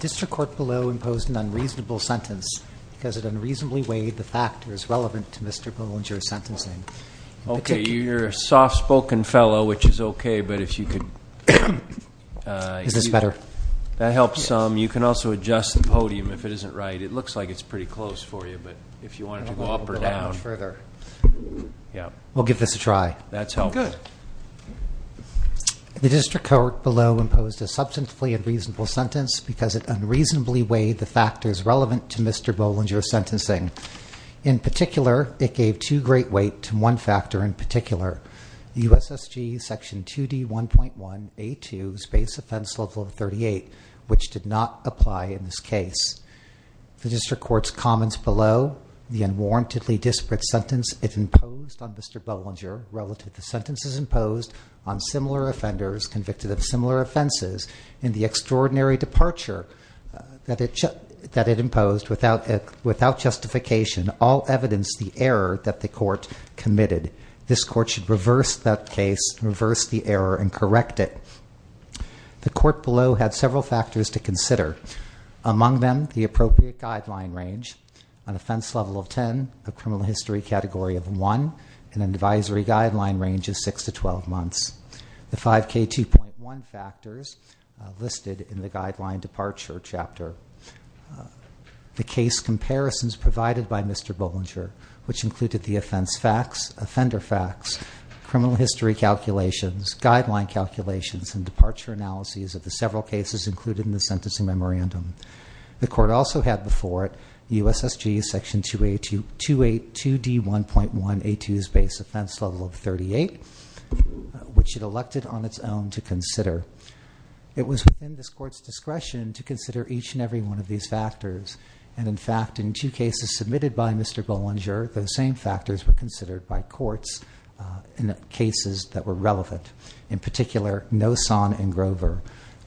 District Court below imposed an unreasonable sentence, because it unreasonably weighed the factors relevant to Mr. Bollinger's sentencing. Okay, you're a soft-spoken fellow, which is okay, but if you could... Is this better? That helps some. You can also adjust the podium if it isn't right. It looks like it's pretty close for you, but if you wanted to go up or down... We'll give this a try. That's helpful. Good. The District Court below imposed a substantively unreasonable sentence, because it unreasonably weighed the factors relevant to Mr. Bollinger's sentencing. In particular, it gave too great weight to one factor in particular, the USSG Section 2D1.1A2's base offense level of 38, which did not apply in this case. The District Court's comments below, the unwarrantedly disparate sentence it imposed on Mr. Bollinger relative to sentences imposed on similar offenders convicted of similar offenses, and the extraordinary departure that it imposed without justification, all evidenced the error that the Court committed. This Court should reverse that case, reverse the error, and correct it. The Court below had several factors to consider. Among them, the appropriate guideline range, an offense level of 10, a criminal history category of 1, and an advisory guideline range of 6 to 12 months. The 5K2.1 factors listed in the guideline departure chapter, the case comparisons provided by Mr. Bollinger, which included the offense facts, offender facts, criminal history calculations, guideline calculations, and departure analyses of the several cases included in the sentencing memorandum. The Court also had before it the USSG Section 2D1.1A2's base offense level of 38, which it elected on its own to consider. It was within this Court's discretion to consider each and every one of these factors. And in fact, in two cases submitted by Mr. Bollinger, those same factors were considered by courts in cases that were relevant. In particular, Noson and Grover.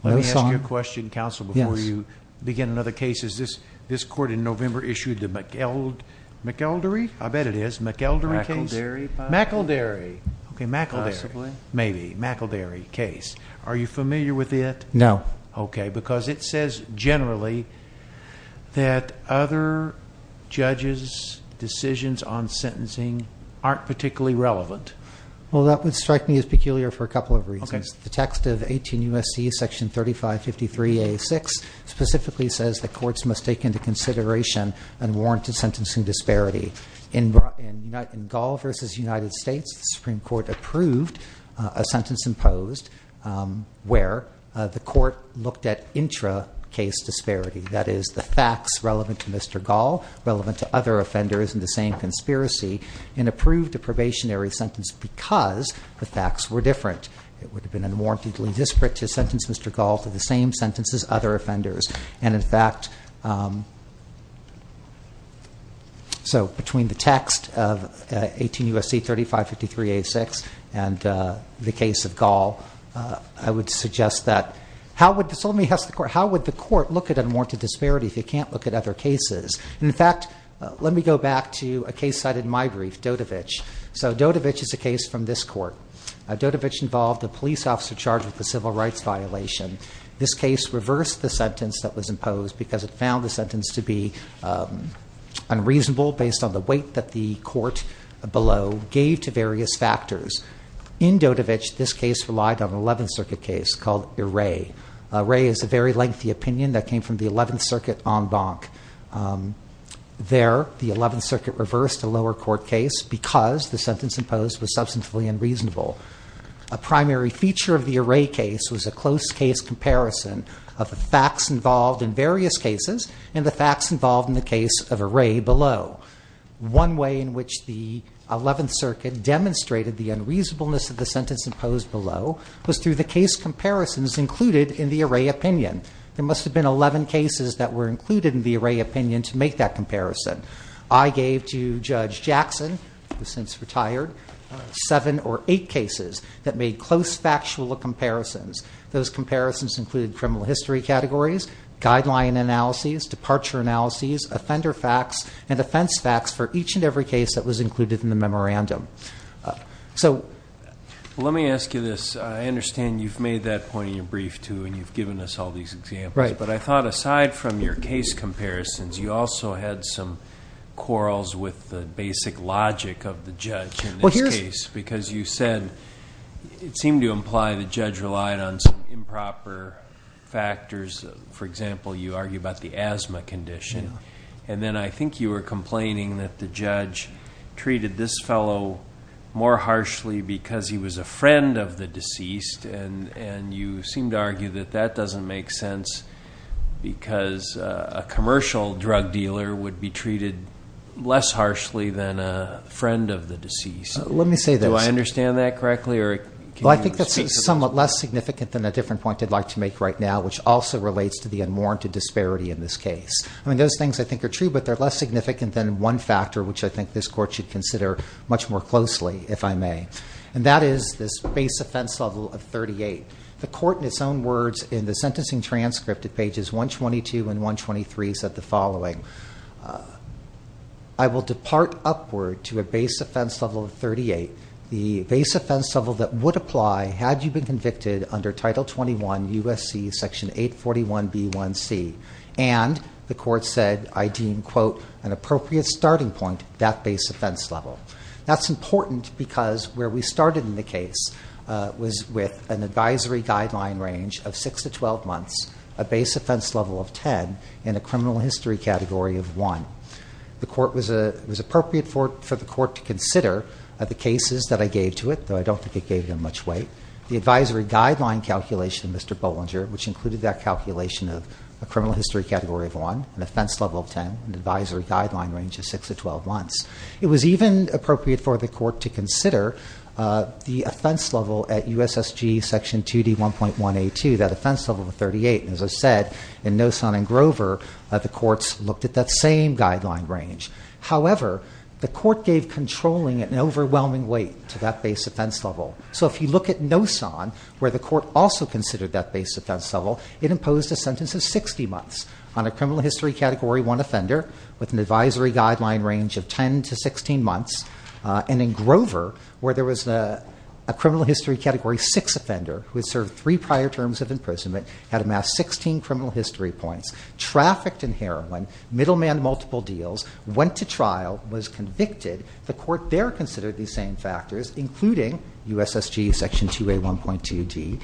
Let me ask you a question, counsel, before you begin another case. Is this Court in November issued the McElderry case? I bet it is. McElderry case? McElderry. Okay, McElderry. Possibly. Maybe. McElderry case. Are you familiar with it? No. Okay, because it says generally that other judges' decisions on sentencing aren't particularly relevant. Well, that would strike me as peculiar for a couple of reasons. Okay. The text of 18 U.S.C. Section 3553A6 specifically says that courts must take into consideration unwarranted sentencing disparity. In Gall v. United States, the Supreme Court approved a sentence imposed where the court looked at intracase disparity. That is, the facts relevant to Mr. Gall, relevant to other offenders in the same conspiracy, and approved a probationary sentence because the facts were different. It would have been unwarrantedly disparate to sentence Mr. Gall to the same sentences other offenders. And, in fact, so between the text of 18 U.S.C. 3553A6 and the case of Gall, I would suggest that how would the court look at unwarranted disparity if you can't look at other cases? And, in fact, let me go back to a case cited in my brief, Dodevich. So Dodevich is a case from this court. Dodevich involved a police officer charged with a civil rights violation. This case reversed the sentence that was imposed because it found the sentence to be unreasonable based on the weight that the court below gave to various factors. In Dodevich, this case relied on an 11th Circuit case called Iray. Iray is a very lengthy opinion that came from the 11th Circuit en banc. There, the 11th Circuit reversed a lower court case because the sentence imposed was substantively unreasonable. A primary feature of the Iray case was a close case comparison of the facts involved in various cases and the facts involved in the case of Iray below. One way in which the 11th Circuit demonstrated the unreasonableness of the sentence imposed below was through the case comparisons included in the Iray opinion. There must have been 11 cases that were included in the Iray opinion to make that comparison. I gave to Judge Jackson, who's since retired, seven or eight cases that made close factual comparisons. Those comparisons included criminal history categories, guideline analyses, departure analyses, offender facts, and offense facts for each and every case that was included in the memorandum. Let me ask you this. I understand you've made that point in your brief, too, and you've given us all these examples. Right. But I thought aside from your case comparisons, you also had some quarrels with the basic logic of the judge in this case. Because you said it seemed to imply the judge relied on some improper factors. For example, you argue about the asthma condition. And then I think you were complaining that the judge treated this fellow more harshly because he was a friend of the deceased. And you seemed to argue that that doesn't make sense because a commercial drug dealer would be treated less harshly than a friend of the deceased. Let me say this. Do I understand that correctly, or can you speak to that? Well, I think that's somewhat less significant than a different point I'd like to make right now, which also relates to the unwarranted disparity in this case. I mean, those things I think are true, but they're less significant than one factor, which I think this Court should consider much more closely, if I may. And that is this base offense level of 38. The Court in its own words in the sentencing transcript at pages 122 and 123 said the following. I will depart upward to a base offense level of 38. The base offense level that would apply had you been convicted under Title 21 U.S.C. Section 841b1c. And the Court said, I deem, quote, an appropriate starting point, that base offense level. That's important because where we started in the case was with an advisory guideline range of 6 to 12 months, a base offense level of 10, and a criminal history category of 1. It was appropriate for the Court to consider the cases that I gave to it, though I don't think it gave them much weight. The advisory guideline calculation, Mr. Bollinger, which included that calculation of a criminal history category of 1, an offense level of 10, an advisory guideline range of 6 to 12 months. It was even appropriate for the Court to consider the offense level at U.S.S.G. Section 2D1.1a2, that offense level of 38. As I said, in Nosson and Grover, the Courts looked at that same guideline range. However, the Court gave controlling an overwhelming weight to that base offense level. So if you look at Nosson, where the Court also considered that base offense level, it imposed a sentence of 60 months on a criminal history category 1 offender with an advisory guideline range of 10 to 16 months. And in Grover, where there was a criminal history category 6 offender who had served three prior terms of imprisonment, had amassed 16 criminal history points, trafficked in heroin, middleman multiple deals, went to trial, was convicted. The Court there considered these same factors, including U.S.S.G. Section 2D1.1a2,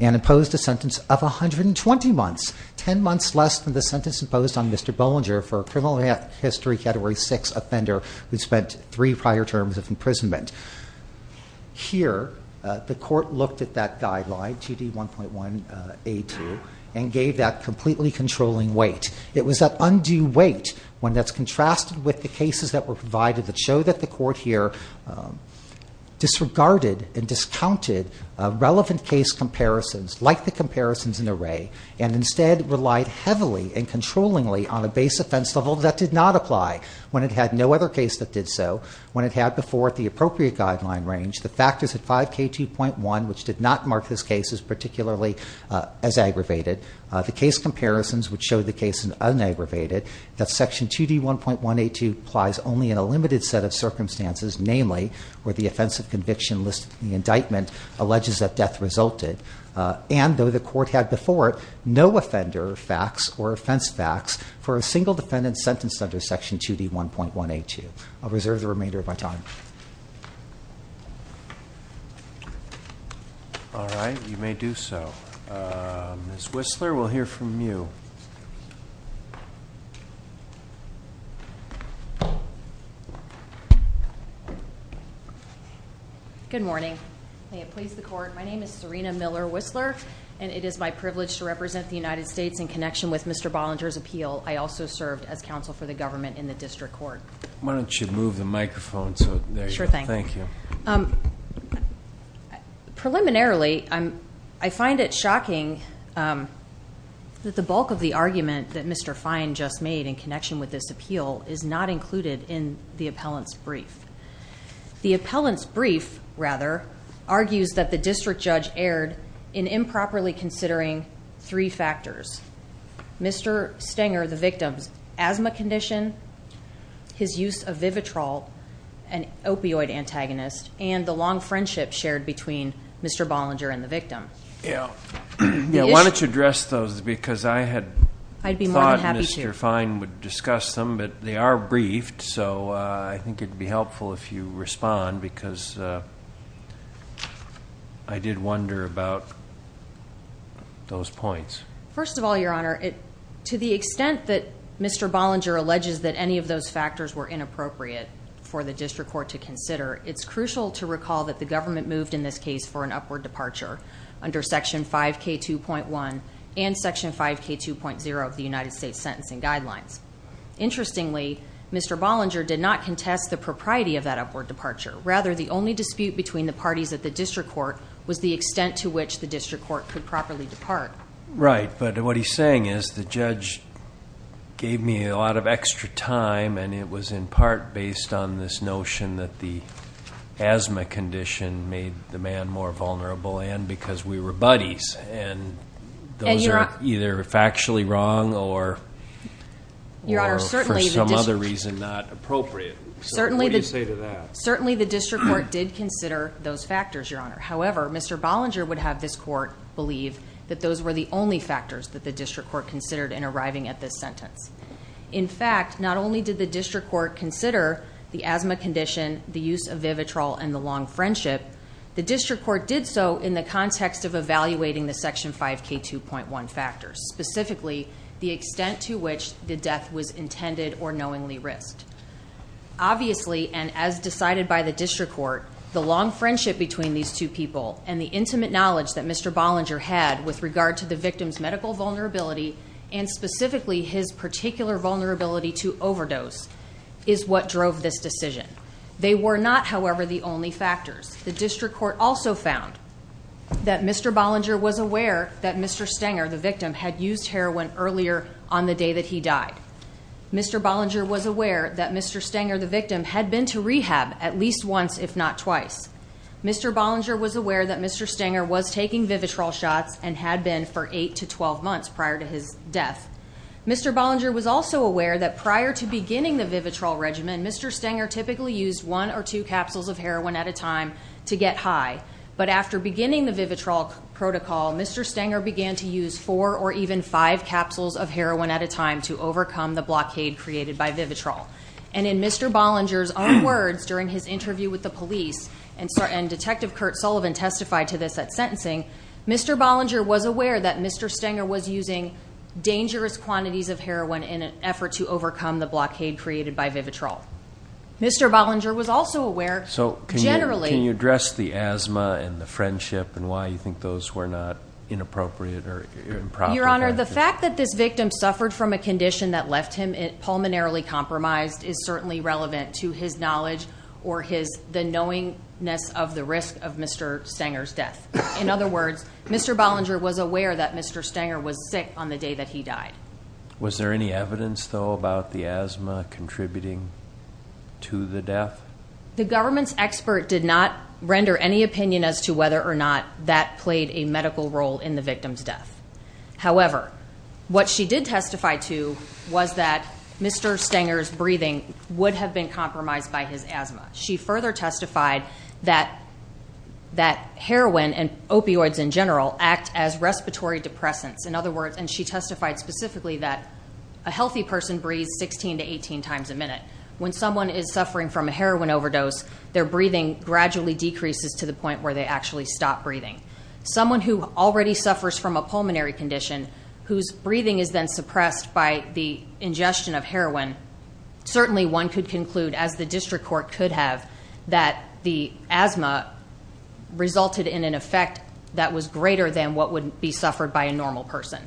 and imposed a sentence of 120 months, 10 months less than the sentence imposed on Mr. Bollinger for a criminal history category 6 offender who spent three prior terms of imprisonment. Here, the Court looked at that guideline, 2D1.1a2, and gave that completely controlling weight. It was that undue weight, one that's contrasted with the cases that were provided that show that the Court here disregarded and discounted relevant case comparisons, like the comparisons in Array, and instead relied heavily and controllingly on a base offense level that did not apply when it had no other case that did so, when it had before it the appropriate guideline range. The factors at 5K2.1, which did not mark this case as particularly as aggravated, the case comparisons which show the case as unaggravated, that Section 2D1.1a2 applies only in a limited set of circumstances, namely where the offensive conviction listed in the indictment alleges that death resulted, and though the Court had before it no offender facts or offense facts for a single defendant sentenced under Section 2D1.1a2. I'll reserve the remainder of my time. All right, you may do so. Ms. Whistler, we'll hear from you. Good morning. May it please the Court, my name is Serena Miller-Whistler, and it is my privilege to represent the United States in connection with Mr. Bollinger's appeal. I also served as counsel for the government in the district court. Why don't you move the microphone so that- Sure thing. Thank you. Preliminarily, I find it shocking that the bulk of the argument that Mr. Fine just made in connection with this appeal is not included in the appellant's brief. The appellant's brief, rather, argues that the district judge erred in improperly considering three factors, Mr. Stenger, the victim's asthma condition, his use of Vivitrol, an opioid antagonist, and the long friendship shared between Mr. Bollinger and the victim. Yeah. Why don't you address those because I had thought Mr. Fine would discuss them, but they are briefed, so I think it would be helpful if you respond because I did wonder about those points. First of all, Your Honor, to the extent that Mr. Bollinger alleges that any of those factors were inappropriate for the district court to consider, it's crucial to recall that the government moved in this case for an upward departure under Section 5K2.1 and Section 5K2.0 of the United States Sentencing Guidelines. Interestingly, Mr. Bollinger did not contest the propriety of that upward departure. Rather, the only dispute between the parties at the district court was the extent to which the district court could properly depart. Right, but what he's saying is the judge gave me a lot of extra time, and it was in part based on this notion that the asthma condition made the man more vulnerable and because we were buddies, and those are either factually wrong or for some other reason not appropriate. What do you say to that? Certainly the district court did consider those factors, Your Honor. However, Mr. Bollinger would have this court believe that those were the only factors that the district court considered in arriving at this sentence. In fact, not only did the district court consider the asthma condition, the use of Vivitrol, and the long friendship, the district court did so in the context of evaluating the Section 5K2.1 factors, specifically the extent to which the death was intended or knowingly risked. Obviously, and as decided by the district court, the long friendship between these two people and the intimate knowledge that Mr. Bollinger had with regard to the victim's medical vulnerability and specifically his particular vulnerability to overdose is what drove this decision. They were not, however, the only factors. The district court also found that Mr. Bollinger was aware that Mr. Stenger, the victim, had used heroin earlier on the day that he died. Mr. Bollinger was aware that Mr. Stenger, the victim, had been to rehab at least once, if not twice. Mr. Bollinger was aware that Mr. Stenger was taking Vivitrol shots and had been for 8 to 12 months prior to his death. Mr. Bollinger was also aware that prior to beginning the Vivitrol regimen, Mr. Stenger typically used one or two capsules of heroin at a time to get high. But after beginning the Vivitrol protocol, Mr. Stenger began to use four or even five capsules of heroin at a time to overcome the blockade created by Vivitrol. And in Mr. Bollinger's own words during his interview with the police, and Detective Kurt Sullivan testified to this at sentencing, Mr. Bollinger was aware that Mr. Stenger was using dangerous quantities of heroin in an effort to overcome the blockade created by Vivitrol. Mr. Bollinger was also aware, generally... So can you address the asthma and the friendship and why you think those were not inappropriate or improper? Your Honor, the fact that this victim suffered from a condition that left him pulmonarily compromised is certainly relevant to his knowledge or the knowingness of the risk of Mr. Stenger's death. In other words, Mr. Bollinger was aware that Mr. Stenger was sick on the day that he died. Was there any evidence, though, about the asthma contributing to the death? The government's expert did not render any opinion as to whether or not that played a medical role in the victim's death. However, what she did testify to was that Mr. Stenger's breathing would have been compromised by his asthma. She further testified that heroin and opioids in general act as respiratory depressants. In other words, and she testified specifically that a healthy person breathes 16 to 18 times a minute. When someone is suffering from a heroin overdose, their breathing gradually decreases to the point where they actually stop breathing. Someone who already suffers from a pulmonary condition, whose breathing is then suppressed by the ingestion of heroin, certainly one could conclude, as the district court could have, that the asthma resulted in an effect that was greater than what would be suffered by a normal person.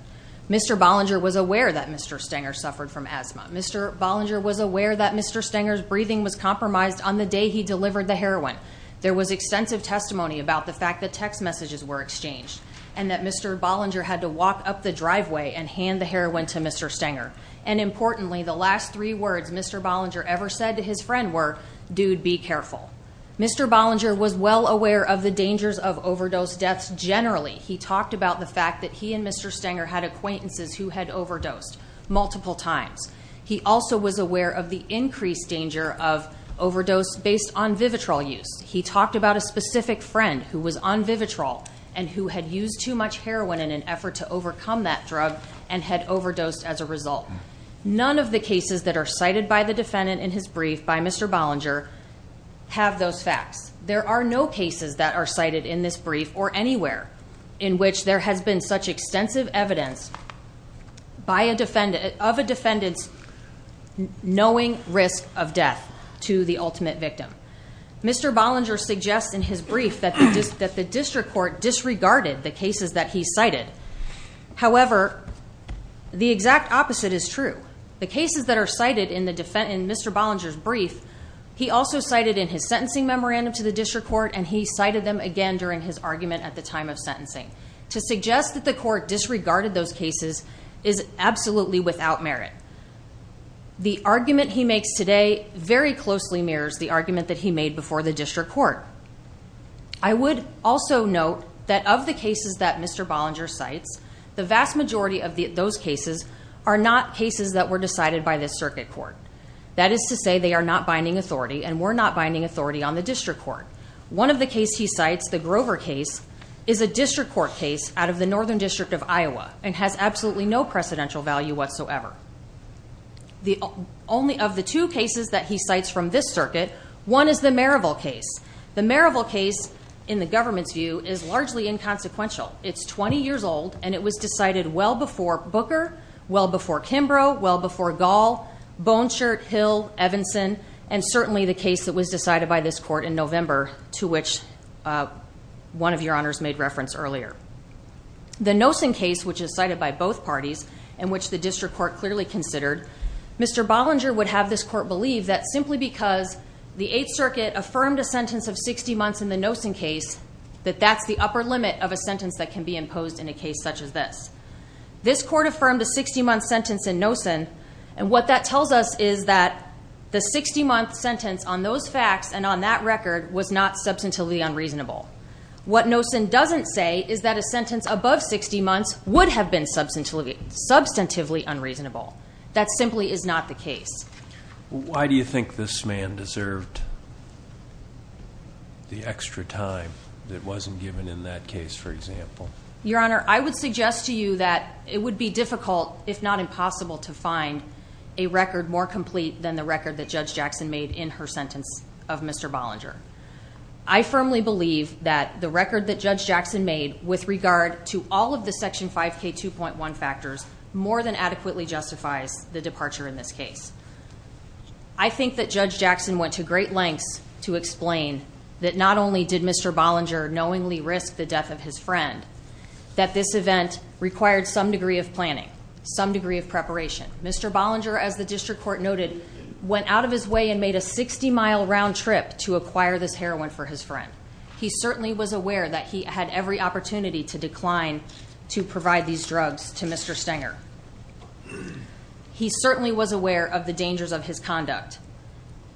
Mr. Bollinger was aware that Mr. Stenger suffered from asthma. Mr. Bollinger was aware that Mr. Stenger's breathing was compromised on the day he delivered the heroin. There was extensive testimony about the fact that text messages were exchanged and that Mr. Bollinger had to walk up the driveway and hand the heroin to Mr. Stenger. And importantly, the last three words Mr. Bollinger ever said to his friend were, dude, be careful. Mr. Bollinger was well aware of the dangers of overdose deaths generally. He talked about the fact that he and Mr. Stenger had acquaintances who had overdosed multiple times. He also was aware of the increased danger of overdose based on Vivitrol use. He talked about a specific friend who was on Vivitrol and who had used too much heroin in an effort to overcome that drug and had overdosed as a result. None of the cases that are cited by the defendant in his brief by Mr. Bollinger have those facts. There are no cases that are cited in this brief or anywhere in which there has been such extensive evidence of a defendant's knowing risk of death to the ultimate victim. Mr. Bollinger suggests in his brief that the district court disregarded the cases that he cited. However, the exact opposite is true. The cases that are cited in Mr. Bollinger's brief, he also cited in his sentencing memorandum to the district court and he cited them again during his argument at the time of sentencing. To suggest that the court disregarded those cases is absolutely without merit. The argument he makes today very closely mirrors the argument that he made before the district court. I would also note that of the cases that Mr. Bollinger cites, the vast majority of those cases are not cases that were decided by the circuit court. That is to say they are not binding authority and were not binding authority on the district court. One of the cases he cites, the Grover case, is a district court case out of the Northern District of Iowa and has absolutely no precedential value whatsoever. Only of the two cases that he cites from this circuit, one is the Merrillville case. The Merrillville case, in the government's view, is largely inconsequential. It's 20 years old and it was decided well before Booker, well before Kimbrough, well before Gall, Bonechert, Hill, Evanson, and certainly the case that was decided by this court in November to which one of your honors made reference earlier. The Nossen case, which is cited by both parties and which the district court clearly considered, Mr. Bollinger would have this court believe that simply because the Eighth Circuit affirmed a sentence of 60 months in the Nossen case, that that's the upper limit of a sentence that can be imposed in a case such as this. This court affirmed a 60-month sentence in Nossen and what that tells us is that the 60-month sentence on those facts and on that record was not substantively unreasonable. What Nossen doesn't say is that a sentence above 60 months would have been substantively unreasonable. That simply is not the case. Why do you think this man deserved the extra time that wasn't given in that case, for example? Your Honor, I would suggest to you that it would be difficult, if not impossible, to find a record more complete than the record that Judge Jackson made in her sentence of Mr. Bollinger. I firmly believe that the record that Judge Jackson made with regard to all of the Section 5K2.1 factors more than adequately justifies the departure in this case. I think that Judge Jackson went to great lengths to explain that not only did Mr. Bollinger knowingly risk the death of his friend, that this event required some degree of planning, some degree of preparation. Mr. Bollinger, as the district court noted, went out of his way and made a 60-mile round trip to acquire this heroin for his friend. He certainly was aware that he had every opportunity to decline to provide these drugs to Mr. Stenger. He certainly was aware of the dangers of his conduct.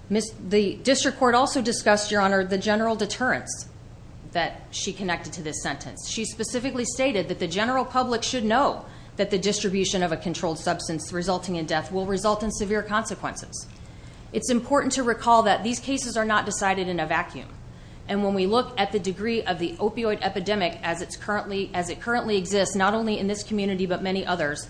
The district court also discussed, Your Honor, the general deterrence that she connected to this sentence. She specifically stated that the general public should know that the distribution of a controlled substance resulting in death will result in severe consequences. It's important to recall that these cases are not decided in a vacuum. And when we look at the degree of the opioid epidemic as it currently exists, not only in this community but many others,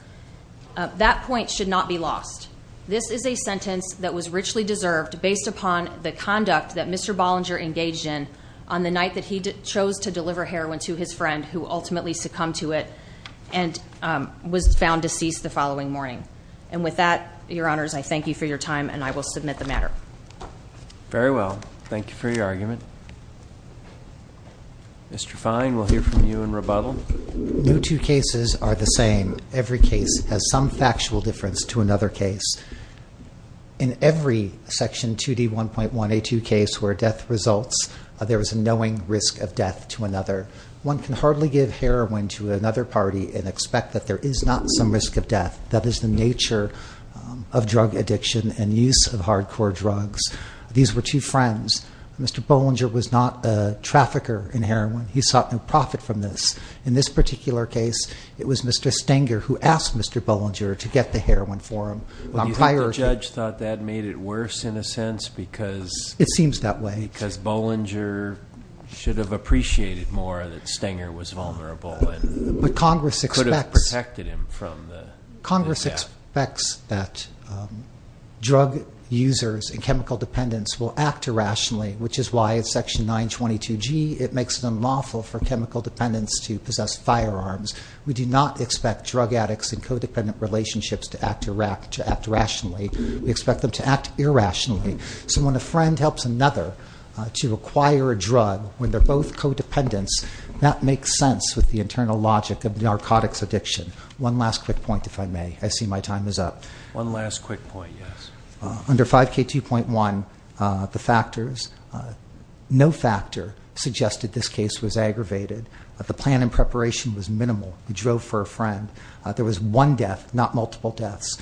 that point should not be lost. This is a sentence that was richly deserved based upon the conduct that Mr. Bollinger engaged in on the night that he chose to deliver heroin to his friend who ultimately succumbed to it and was found deceased the following morning. And with that, Your Honors, I thank you for your time and I will submit the matter. Very well. Thank you for your argument. Mr. Fine, we'll hear from you in rebuttal. No two cases are the same. Every case has some factual difference to another case. In every Section 2D1.1A2 case where death results, there is a knowing risk of death to another. One can hardly give heroin to another party and expect that there is not some risk of death. That is the nature of drug addiction and use of hardcore drugs. These were two friends. Mr. Bollinger was not a trafficker in heroin. He sought no profit from this. In this particular case, it was Mr. Stenger who asked Mr. Bollinger to get the heroin for him. Do you think the judge thought that made it worse in a sense? It seems that way. Because Bollinger should have appreciated more that Stenger was vulnerable and could have protected him from the death. Congress expects that drug users and chemical dependents will act irrationally, which is why in Section 922G it makes it unlawful for chemical dependents to possess firearms. We do not expect drug addicts and co-dependent relationships to act irrationally. We expect them to act irrationally. So when a friend helps another to acquire a drug when they're both co-dependents, that makes sense with the internal logic of narcotics addiction. One last quick point, if I may. I see my time is up. One last quick point, yes. Under 5K2.1, the factors, no factor suggested this case was aggravated. The plan and preparation was minimal. He drove for a friend. There was one death, not multiple deaths.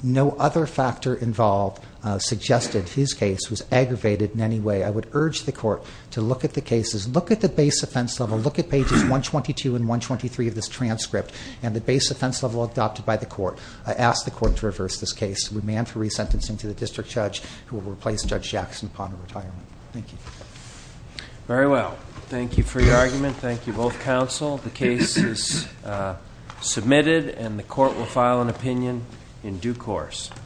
No other factor involved suggested his case was aggravated in any way. I would urge the court to look at the cases. Look at the base offense level. Look at pages 122 and 123 of this transcript and the base offense level adopted by the court. I ask the court to reverse this case and remand for resentencing to the district judge who will replace Judge Jackson upon retirement. Thank you. Very well. Thank you for your argument. Thank you, both counsel. The case is submitted, and the court will file an opinion in due course.